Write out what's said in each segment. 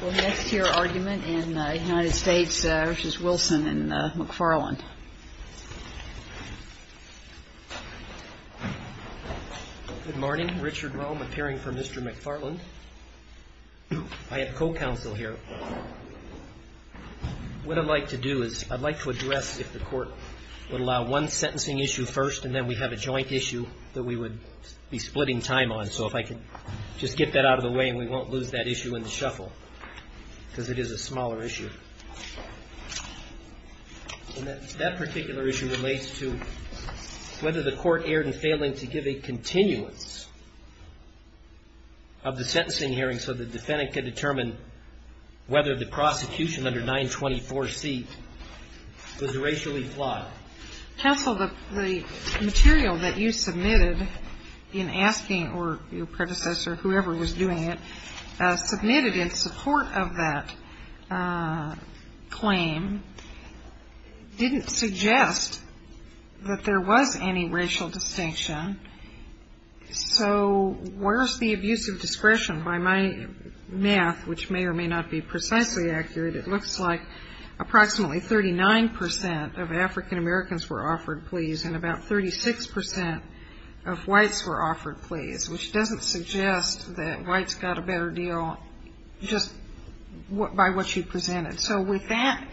and McFarland. Good morning, Richard Rome appearing for Mr. McFarland. I have co-counsel here. What I'd like to do is I'd like to address if the court would allow one sentencing issue first, and then we have a joint issue that we would be splitting time on. So if I could just get that out of the way and we won't lose that issue in the case, because it is a smaller issue. And that particular issue relates to whether the court erred in failing to give a continuance of the sentencing hearing so the defendant could determine whether the prosecution under 924C was racially flawed. The court of that claim didn't suggest that there was any racial distinction. So where's the abuse of discretion? By my math, which may or may not be precisely accurate, it looks like approximately 39% of African Americans were offered pleas, and about 36% of whites were offered pleas, which doesn't suggest that whites got a better deal just because of what you presented. So with that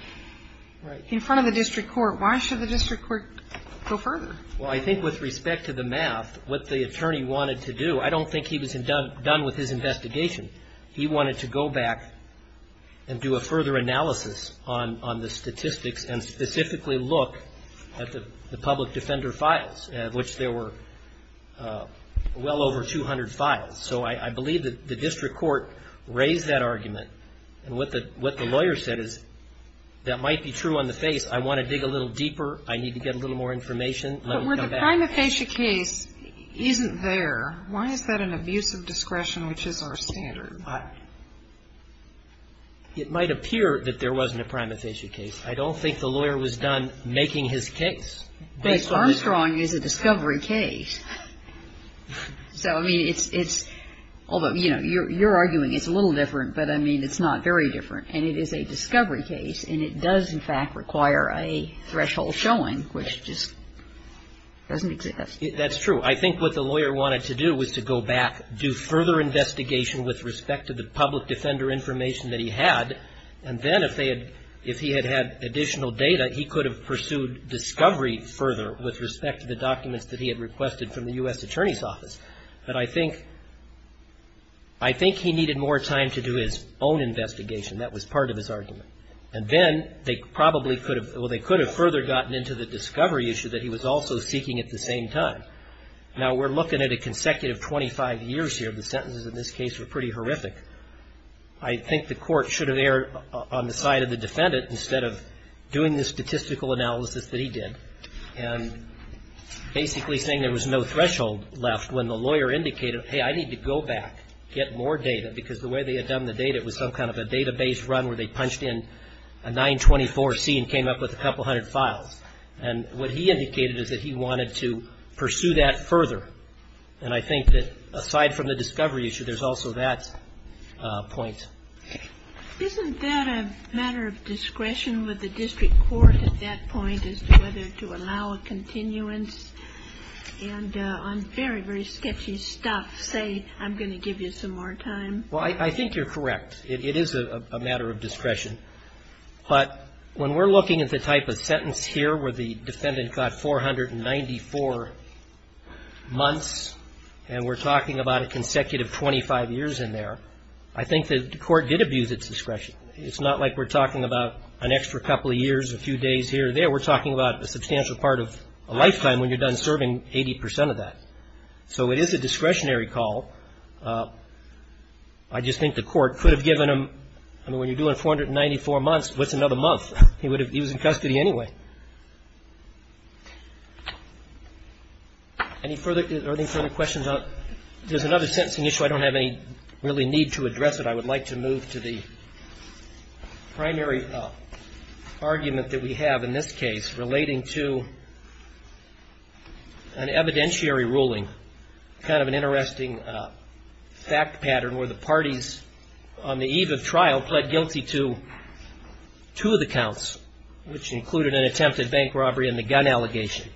in front of the district court, why should the district court go further? Well, I think with respect to the math, what the attorney wanted to do, I don't think he was done with his investigation. He wanted to go back and do a further analysis on the statistics and specifically look at the public defender files, of which there were well over 200 files. So I believe that the district court raised that argument and what the lawyer said is, that might be true on the face. I want to dig a little deeper. I need to get a little more information. It might appear that there wasn't a prima facie case. I don't think the lawyer was done making his case. But Armstrong is a discovery case. So, I mean, it's, although, you know, you're arguing it's a little different, but I think it's not very different. And it is a discovery case, and it does, in fact, require a threshold showing, which just doesn't exist. That's true. I think what the lawyer wanted to do was to go back, do further investigation with respect to the public defender information that he had, and then if they had, if he had had additional data, he could have pursued discovery further with respect to the documents that he had requested from the U.S. Attorney's Office. But I think, I think he needed more time to do his own investigation. That was part of his argument. And then they probably could have, well, they could have further gotten into the discovery issue that he was also seeking at the same time. Now, we're looking at a consecutive 25 years here. The sentences in this case were pretty horrific. I think the court should have erred on the side of the defendant instead of doing the statistical analysis that he did. And basically saying there was no threshold left when the lawyer indicated, hey, I need to go back, get more data, because the way they had done the data, it was some kind of a database run where they punched in a 924C and came up with a couple hundred files. And what he indicated is that he wanted to pursue that further. And I think that aside from the discovery issue, there's also that point. Isn't that a matter of discretion with the district court at that point as to whether to allow a continuance? And on very, very sketchy stuff, say, I'm going to give you some more time? Well, I think you're correct. It is a matter of discretion. But when we're looking at the type of sentence here where the defendant got 494 months, and we're talking about a consecutive 25 years in there, I think the court should have erred on that. But the court did abuse its discretion. It's not like we're talking about an extra couple of years, a few days here or there. We're talking about a substantial part of a lifetime when you're done serving 80 percent of that. So it is a discretionary call. I just think the court could have given him, I mean, when you're doing 494 months, what's another month? He was in custody anyway. Any further questions? There's another sentencing issue. I don't have any really need to address it. I would like to make a move to the primary argument that we have in this case relating to an evidentiary ruling, kind of an interesting fact pattern, where the parties on the eve of trial pled guilty to two of the counts, which included an attempted bank robbery and a gun allegation,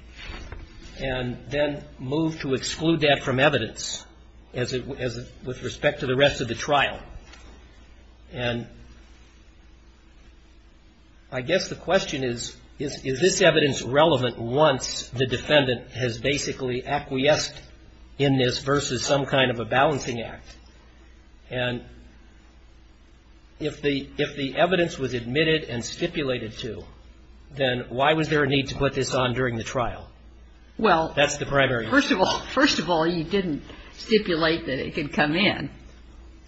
and then moved to exclude that from evidence with respect to the rest of the trial. And I guess the question is, is this evidence relevant once the defendant has basically acquiesced in this versus some kind of a balancing act? And if the evidence was admitted and stipulated to, then why was there a need to put this on during the trial? That's the primary question. First of all, you didn't stipulate that it could come in.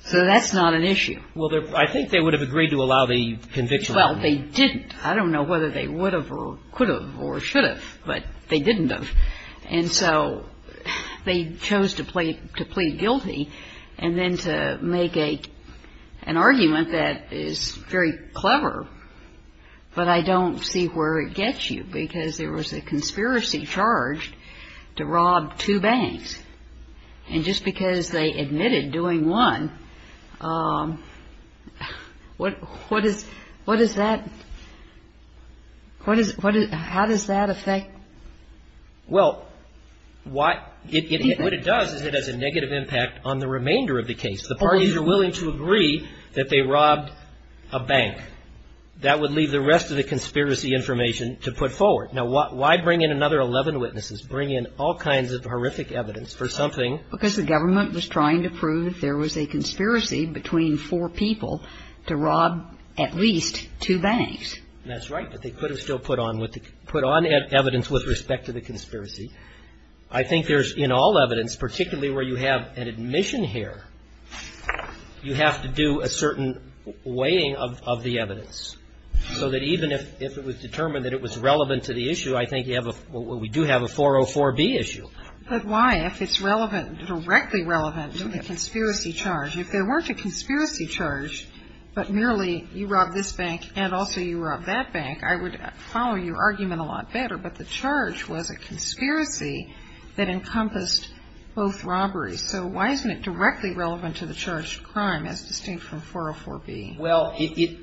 So that's not an issue. Well, I think they would have agreed to allow the conviction. Well, they didn't. I don't know whether they would have or could have or should have, but they didn't have. And so they chose to plead guilty, and then to make an argument that is very clever, but I don't see where it gets you, because there was a negative impact on the remainder of the case. The parties are willing to agree that they robbed a bank. That would leave the rest of the conspiracy information to put forward. I think there's, in all evidence, particularly where you have an admission here, you have to do a certain weighing of the evidence, so that even if it was determined that it was relevant to the issue, I think you have a we do have a 404B issue. But why, if it's relevant, directly relevant to the conspiracy charge? If there weren't a conspiracy charge, but merely you robbed this bank and also you robbed that bank, I would follow your argument a lot better, but the charge was a conspiracy that encompassed both robberies. So why isn't it directly relevant to the charged crime, as distinct from 404B? Well, it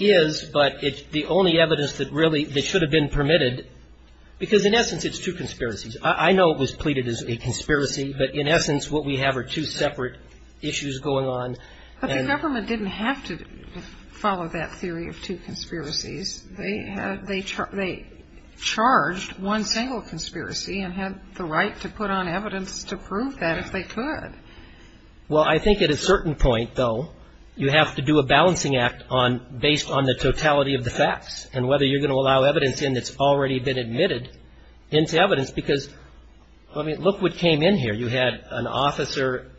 is, but it's the only evidence that really, that should have been permitted, because in essence, it's two conspiracies. I know it was pleaded as a conspiracy, but in essence, what we have are two separate issues going on. But the government didn't have to follow that theory of two conspiracies. They charged one single conspiracy and had the right to put on evidence to prove that if they could. Well, I think at a certain point, though, you have to do a balancing act based on the totality of the facts and whether you're going to allow some evidence in that's already been admitted into evidence, because, I mean, look what came in here. You had an officer,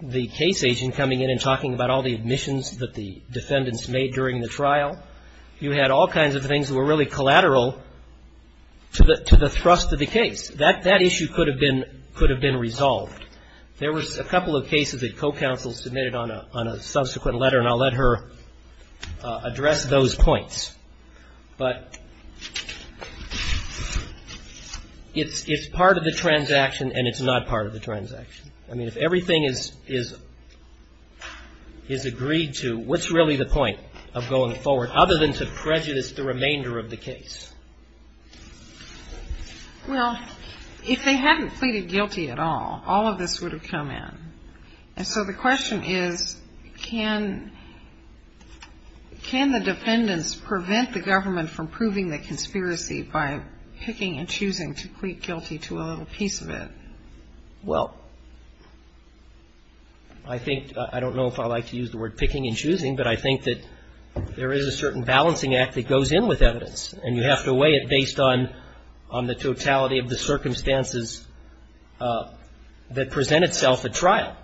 the case agent, coming in and talking about all the admissions that the defendants made during the trial. You had all kinds of things that were really collateral to the thrust of the case. That issue could have been resolved. There was a couple of cases that co-counsel submitted on a subsequent letter, and I'll let her address those points. But it's part of the transaction, and it's not part of the transaction. I mean, if everything is agreed to, what's really the point of going forward, other than to prejudice the remainder of the case? Well, if they hadn't pleaded guilty at all, all of this would have come in. And so the question is, can the defendants prevent the government from proving the conspiracy by picking and choosing to plead guilty to a little piece of it? Well, I think, I don't know if I like to use the word picking and choosing, but I think that there is a certain balancing act that goes in with evidence, and you have to weigh it based on the totality of the circumstances that present itself at trial.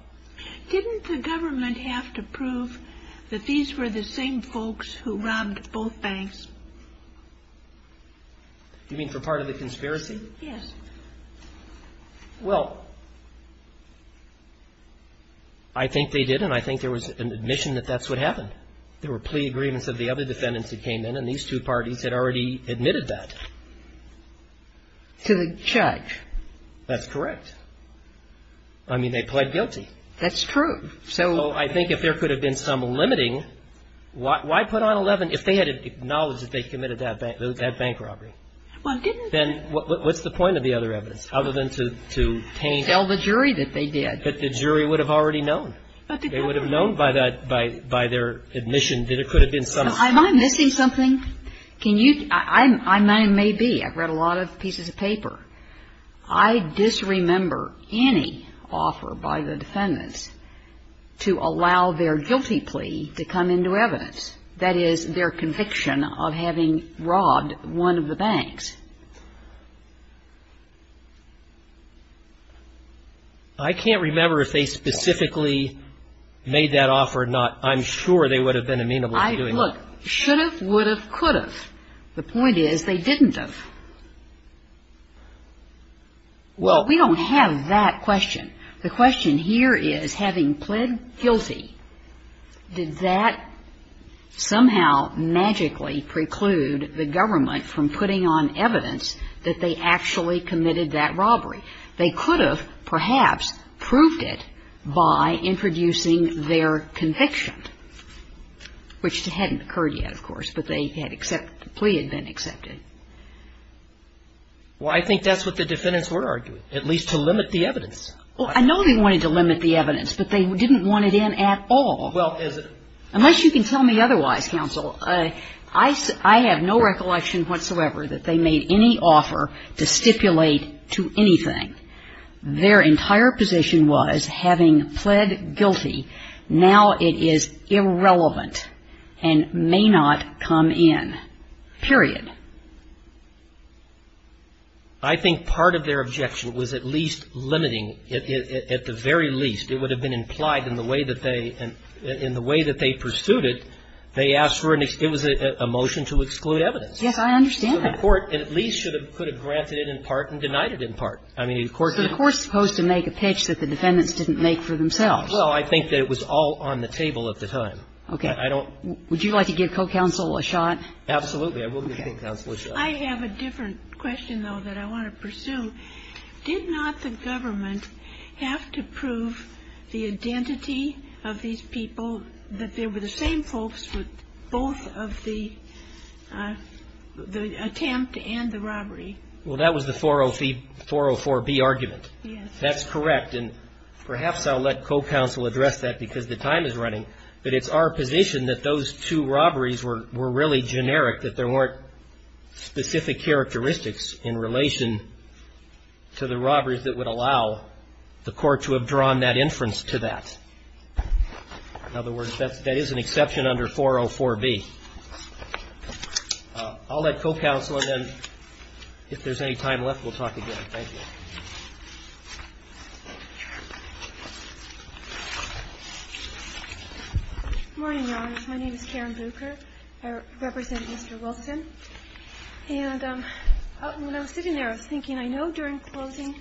Didn't the government have to prove that these were the same folks who robbed both banks? You mean for part of the conspiracy? Yes. Well, I think they did, and I think there was an admission that that's what happened. There were plea agreements of the other defendants that came in, and these two parties had already admitted that. And so the question is, can the defendants prevent the government from proving the conspiracy to the judge? That's correct. I mean, they pled guilty. That's true. So I think if there could have been some limiting, why put on 11 if they had acknowledged that they committed that bank robbery? Well, didn't they? Well, what's the point of the other evidence other than to paint? Tell the jury that they did. But the jury would have already known. They would have known by that, by their admission that it could have been some. Am I missing something? Can you, I may be. I've read a lot of pieces of paper. I disremember any offer by the defendants to allow their guilty plea to come into evidence, that is, their conviction of having robbed one of the banks. I can't remember if they specifically made that offer or not. I'm sure they would have been amenable to doing that. Look, should have, would have, could have. The point is, they didn't have. Well, we don't have that question. The question here is, having pled guilty, did that somehow magically preclude the government from putting on evidence that they actually did? That they actually committed that robbery? They could have, perhaps, proved it by introducing their conviction, which hadn't occurred yet, of course, but they had accepted, the plea had been accepted. Well, I think that's what the defendants were arguing, at least to limit the evidence. Well, I know they wanted to limit the evidence, but they didn't want it in at all. Unless you can tell me otherwise, counsel. I have no recollection whatsoever that they made any offer to stipulate to anything. Their entire position was, having pled guilty, now it is irrelevant and may not come in, period. I think part of their objection was at least limiting, at the very least, it would have been implied in the way that they, in the way that they pursued it, they asked for an, it was a motion to exclude evidence. Yes, I understand that. So the court at least could have granted it in part and denied it in part. So the court's supposed to make a pitch that the defendants didn't make for themselves. Well, I think that it was all on the table at the time. Would you like to give co-counsel a shot? Absolutely, I will give counsel a shot. I have a different question, though, that I want to pursue. Did not the government have to prove the identity of these people, that they were the same folks with both of the attempt and the robbery? Well, that was the 404B argument. Yes. That's correct, and perhaps I'll let co-counsel address that, because the time is running, but it's our position that those two robberies were really generic, that there weren't specific characteristics in relation to the identity of these people. So the robberies that would allow the court to have drawn that inference to that. In other words, that is an exception under 404B. I'll let co-counsel, and then if there's any time left, we'll talk again. Thank you. Good morning, Your Honors. My name is Karen Bruker. I represent Mr. Wilson. And when I was sitting there, I was thinking, I know during closing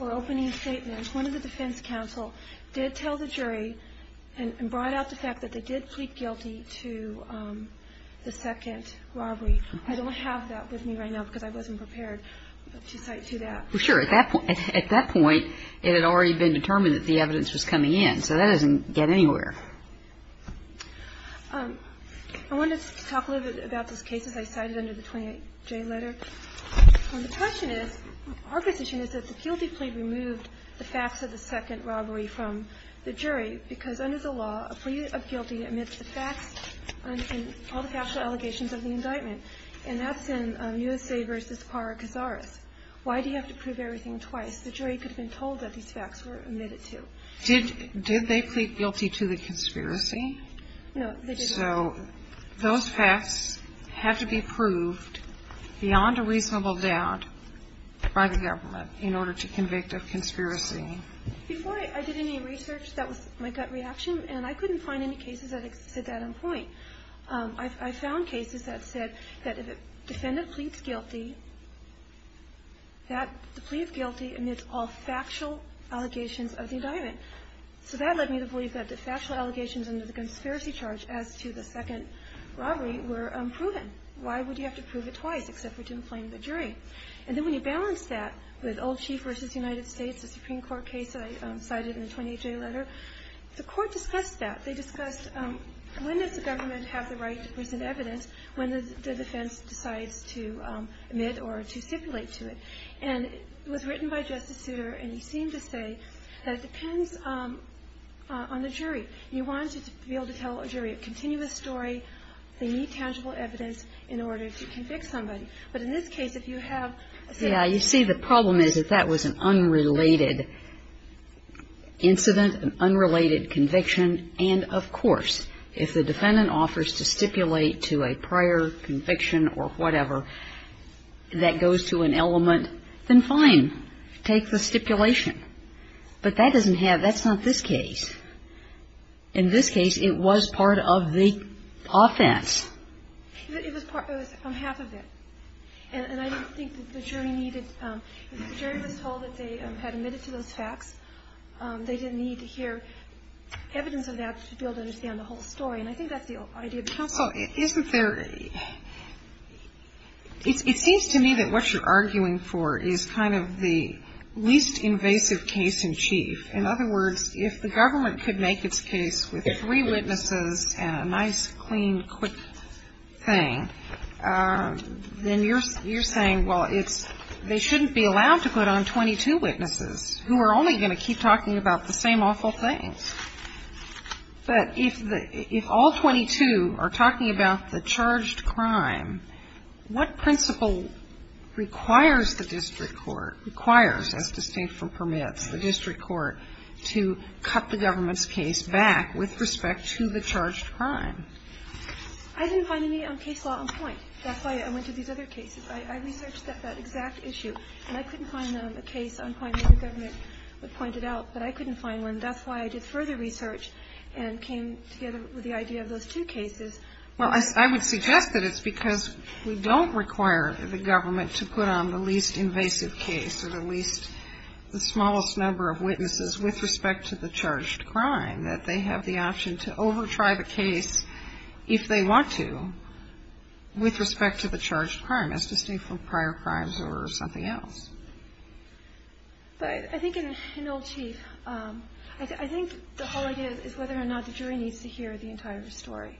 or opening statements, one of the defense counsel did tell the jury and brought out the fact that they did plead guilty to the second robbery. I don't have that with me right now, because I wasn't prepared to cite to that. Well, sure. At that point, it had already been determined that the evidence was coming in, so that doesn't get anywhere. I wanted to talk a little bit about this case, as I cited under the 28J letter. The question is, our position is that the guilty plea removed the facts of the second robbery from the jury, because under the law, a plea of guilty amidst the facts and all the factual allegations of the indictment, and that's in USA v. Parra-Cazares. Why do you have to prove everything twice? The jury could have been told that these facts were admitted to. Did they plead guilty to the conspiracy? No, they didn't. So those facts have to be proved beyond a reasonable doubt by the government in order to convict of conspiracy. Before I did any research, that was my gut reaction, and I couldn't find any cases that said that on point. I found cases that said that if a defendant pleads guilty, that the plea of guilty amidst all factual allegations of the indictment, so that led me to believe that the factual allegations under the conspiracy charge as to the second robbery were unproven. Why would you have to prove it twice, except for to inflame the jury? And then when you balance that with Old Chief v. United States, the Supreme Court case that I cited in the 28J letter, the Court discussed that. They discussed, when does the government have the right to present evidence when the defense decides to admit or to stipulate to it? And it was written by Justice Souter, and he seemed to say that it depends on the jury. You want to be able to tell a jury a continuous story. They need tangible evidence in order to convict somebody. But in this case, if you have a... Yeah. You see, the problem is that that was an unrelated incident, an unrelated conviction. And, of course, if the defendant offers to stipulate to a prior conviction or whatever, that goes to an element of the jury. If the defendant doesn't, then fine, take the stipulation. But that doesn't have... That's not this case. In this case, it was part of the offense. It was part... It was half of it. And I don't think that the jury needed... If the jury was told that they had admitted to those facts, they didn't need to hear evidence of that to be able to understand the whole story. And I think that's the idea of counsel. So isn't there... It seems to me that what you're arguing for is kind of the least invasive case in chief. In other words, if the government could make its case with three witnesses and a nice, clean, quick thing, then you're saying, well, it's... They shouldn't be allowed to put on 22 witnesses who are only going to keep talking about the same awful things. But if the... If all 22 are talking about the charged crime, what principle requires the district court... Requires, as to state from permits, the district court to cut the government's case back with respect to the charged crime? I didn't find any case law on point. That's why I went to these other cases. I researched that exact issue, and I couldn't find a case on point that the government would point it out. But I couldn't find one. And that's why I did further research and came together with the idea of those two cases. Well, I would suggest that it's because we don't require the government to put on the least invasive case or the least... The smallest number of witnesses with respect to the charged crime. That they have the option to over-try the case, if they want to, with respect to the charged crime, as to state from prior crimes or something else. But I think in Old Chief, I think the whole idea is whether or not the jury needs to hear the entire story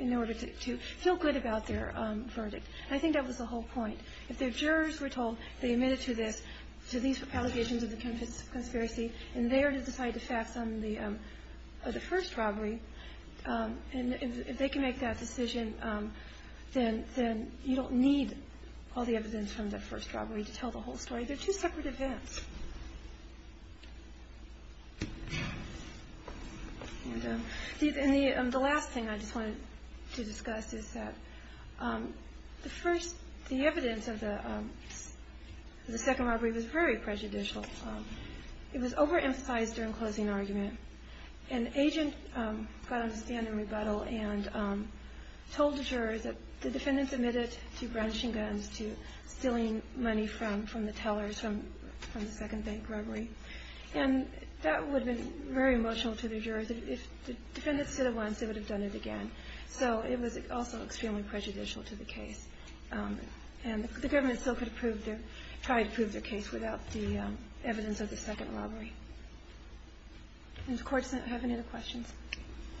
in order to feel good about their verdict. I think that was the whole point. If the jurors were told they admitted to this, to these allegations of the conspiracy, and they are to decide to fax on the first robbery, and if they can make that decision, then you don't need all the evidence from the first robbery to tell the whole story. They're two separate events. And the last thing I just wanted to discuss is that the evidence of the second robbery was very prejudicial. It was over-emphasized during closing argument. An agent got on the stand in rebuttal and told the jurors that the defendants admitted to brandishing guns, to stealing money from the tellers from the second bank robbery. And that would have been very emotional to the jurors. If the defendants said it once, they would have done it again. So it was also extremely prejudicial to the case. And the government still could have tried to prove their case without the evidence of the second robbery. And the Court does not have any other questions.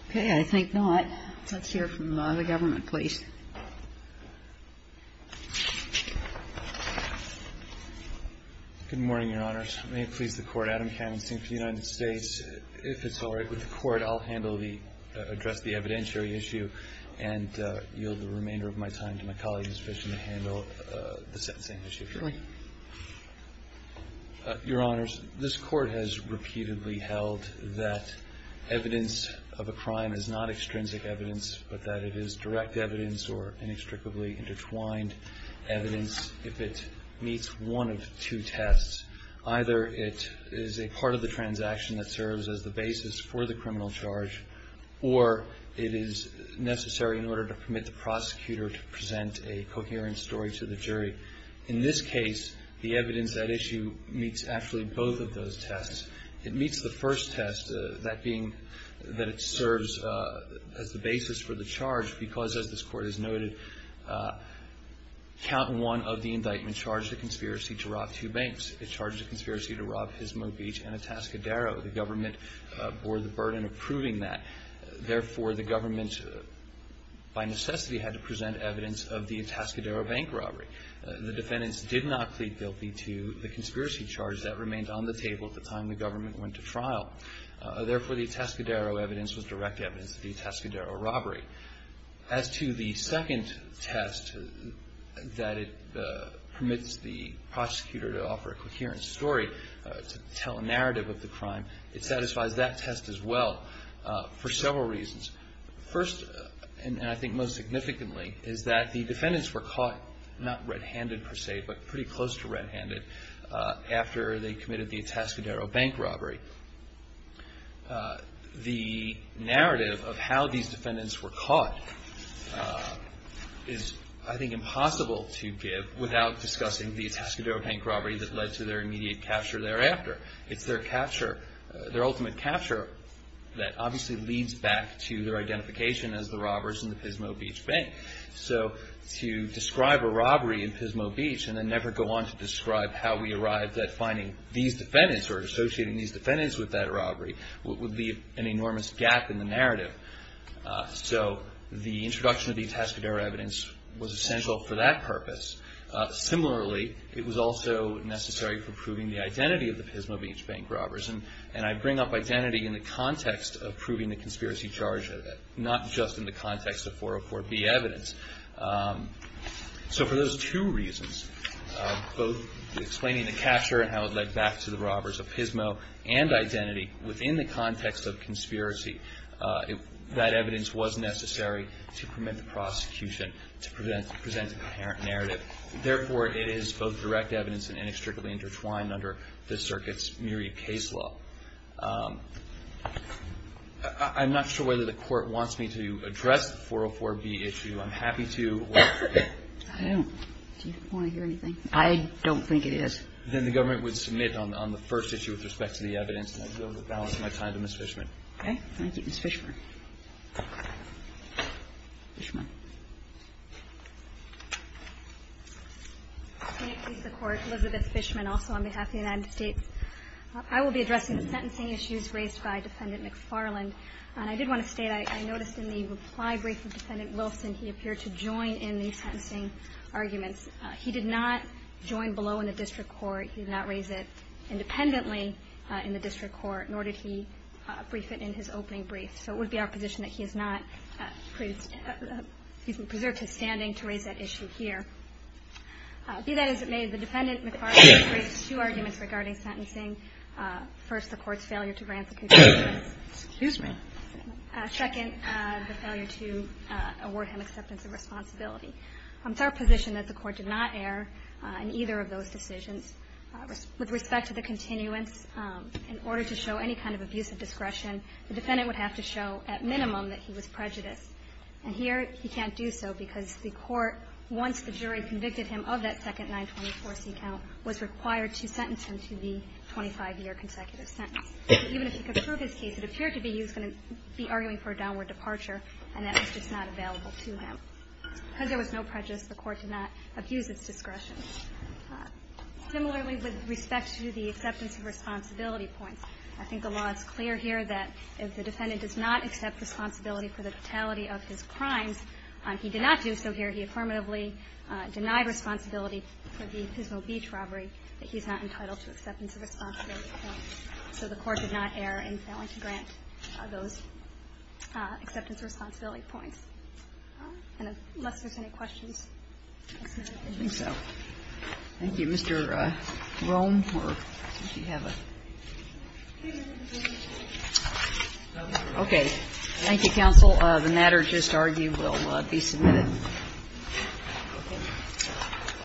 Okay, I think not. Let's hear from the government, please. Good morning, Your Honors. May it please the Court, Adam Cannon speaking for the United States. If it's all right with the Court, I'll address the evidentiary issue and yield the remainder of my time to my colleague Ms. Fishman to handle the sentencing issue. Go ahead. Your Honors, this Court has repeatedly held that evidence of a crime is not extrinsic evidence, but that it is direct evidence or inextricably intertwined evidence if it meets one of two tests. Either it is a part of the transaction that serves as the basis for the criminal charge, or it is necessary in order to permit the prosecutor to present a coherent story to the jury. In this case, the evidence at issue meets actually both of those tests. It meets the first test, that being that it serves as the basis for the charge because, as this Court has noted, count one of the indictments charged a conspiracy to rob two banks. It charged a conspiracy to rob Gizmo Beach and Atascadero. The government bore the burden of proving that. Therefore, the government by necessity had to present evidence of the Atascadero bank robbery. The defendants did not plead guilty to the conspiracy charge that remained on the table at the time the government went to trial. Therefore, the Atascadero evidence was direct evidence of the Atascadero robbery. As to the second test, that it permits the prosecutor to offer a coherent story to tell a narrative of the crime, it satisfies that test as well for several reasons. First, and I think most significantly, is that the defendants were caught not red-handed per se, but pretty close to red-handed after they committed the Atascadero bank robbery. The narrative of how these defendants were caught is, I think, impossible to give without discussing the Atascadero bank robbery that led to their immediate capture thereafter. It's their capture, their ultimate capture, that obviously leads back to their identification as the robbers in the Gizmo Beach bank. So to describe a robbery in Gizmo Beach and then never go on to describe how we arrived at finding these defendants or associating these defendants with that robbery would leave an enormous gap in the narrative. So the introduction of the Atascadero evidence was essential for that purpose. Similarly, it was also necessary for proving the identity of the Gizmo Beach bank robbers. And I bring up identity in the context of proving the conspiracy charge, not just in the context of 404B evidence. So for those two reasons, both explaining the capture and how it led back to the robbers of Gizmo and identity within the context of conspiracy, that evidence was necessary to permit the prosecution to present a coherent narrative. Therefore, it is both direct evidence and inextricably intertwined under the circuit's myriad case law. I'm not sure whether the Court wants me to address the 404B issue. I'm happy to. I don't. Do you want to hear anything? I don't think it is. Then the government would submit on the first issue with respect to the evidence, and I'd be able to balance my time to Ms. Fishman. Okay. Thank you, Ms. Fishman. Ms. Fishman. Can I please the Court? Elizabeth Fishman, also on behalf of the United States. I will be addressing the sentencing issues raised by Defendant McFarland. And I did want to state, I noticed in the reply brief of Defendant Wilson, he appeared to join in the sentencing arguments. He did not join below in the district court. He did not raise it independently in the district court, nor did he brief it in his opening brief. So it would be our position that he has not preserved his standing to raise that issue here. Be that as it may, the Defendant McFarland has raised two arguments regarding sentencing. First, the Court's failure to grant the continuance. Excuse me. Second, the failure to award him acceptance of responsibility. It's our position that the Court did not err in either of those decisions. With respect to the continuance, in order to show any kind of abuse of discretion, the Defendant would have to show, at minimum, that he was prejudiced. And here, he can't do so because the Court, once the jury convicted him of that second 924C count, was required to sentence him to the 25-year consecutive sentence. Even if he could prove his case, it appeared to be he was going to be arguing for a downward departure, and that was just not available to him. Because there was no prejudice, the Court did not abuse its discretion. Similarly, with respect to the acceptance of responsibility points, I think the law is clear here that if the Defendant does not accept responsibility for the fatality of his crimes, he did not do so here. He affirmatively denied responsibility for the Pismo Beach robbery, that he's not entitled to acceptance of responsibility points. So the Court did not err in failing to grant those acceptance of responsibility points. Unless there's any questions. I think so. Thank you. Mr. Rohn, do you have a? Okay. Thank you, counsel. The matter just argued will be submitted.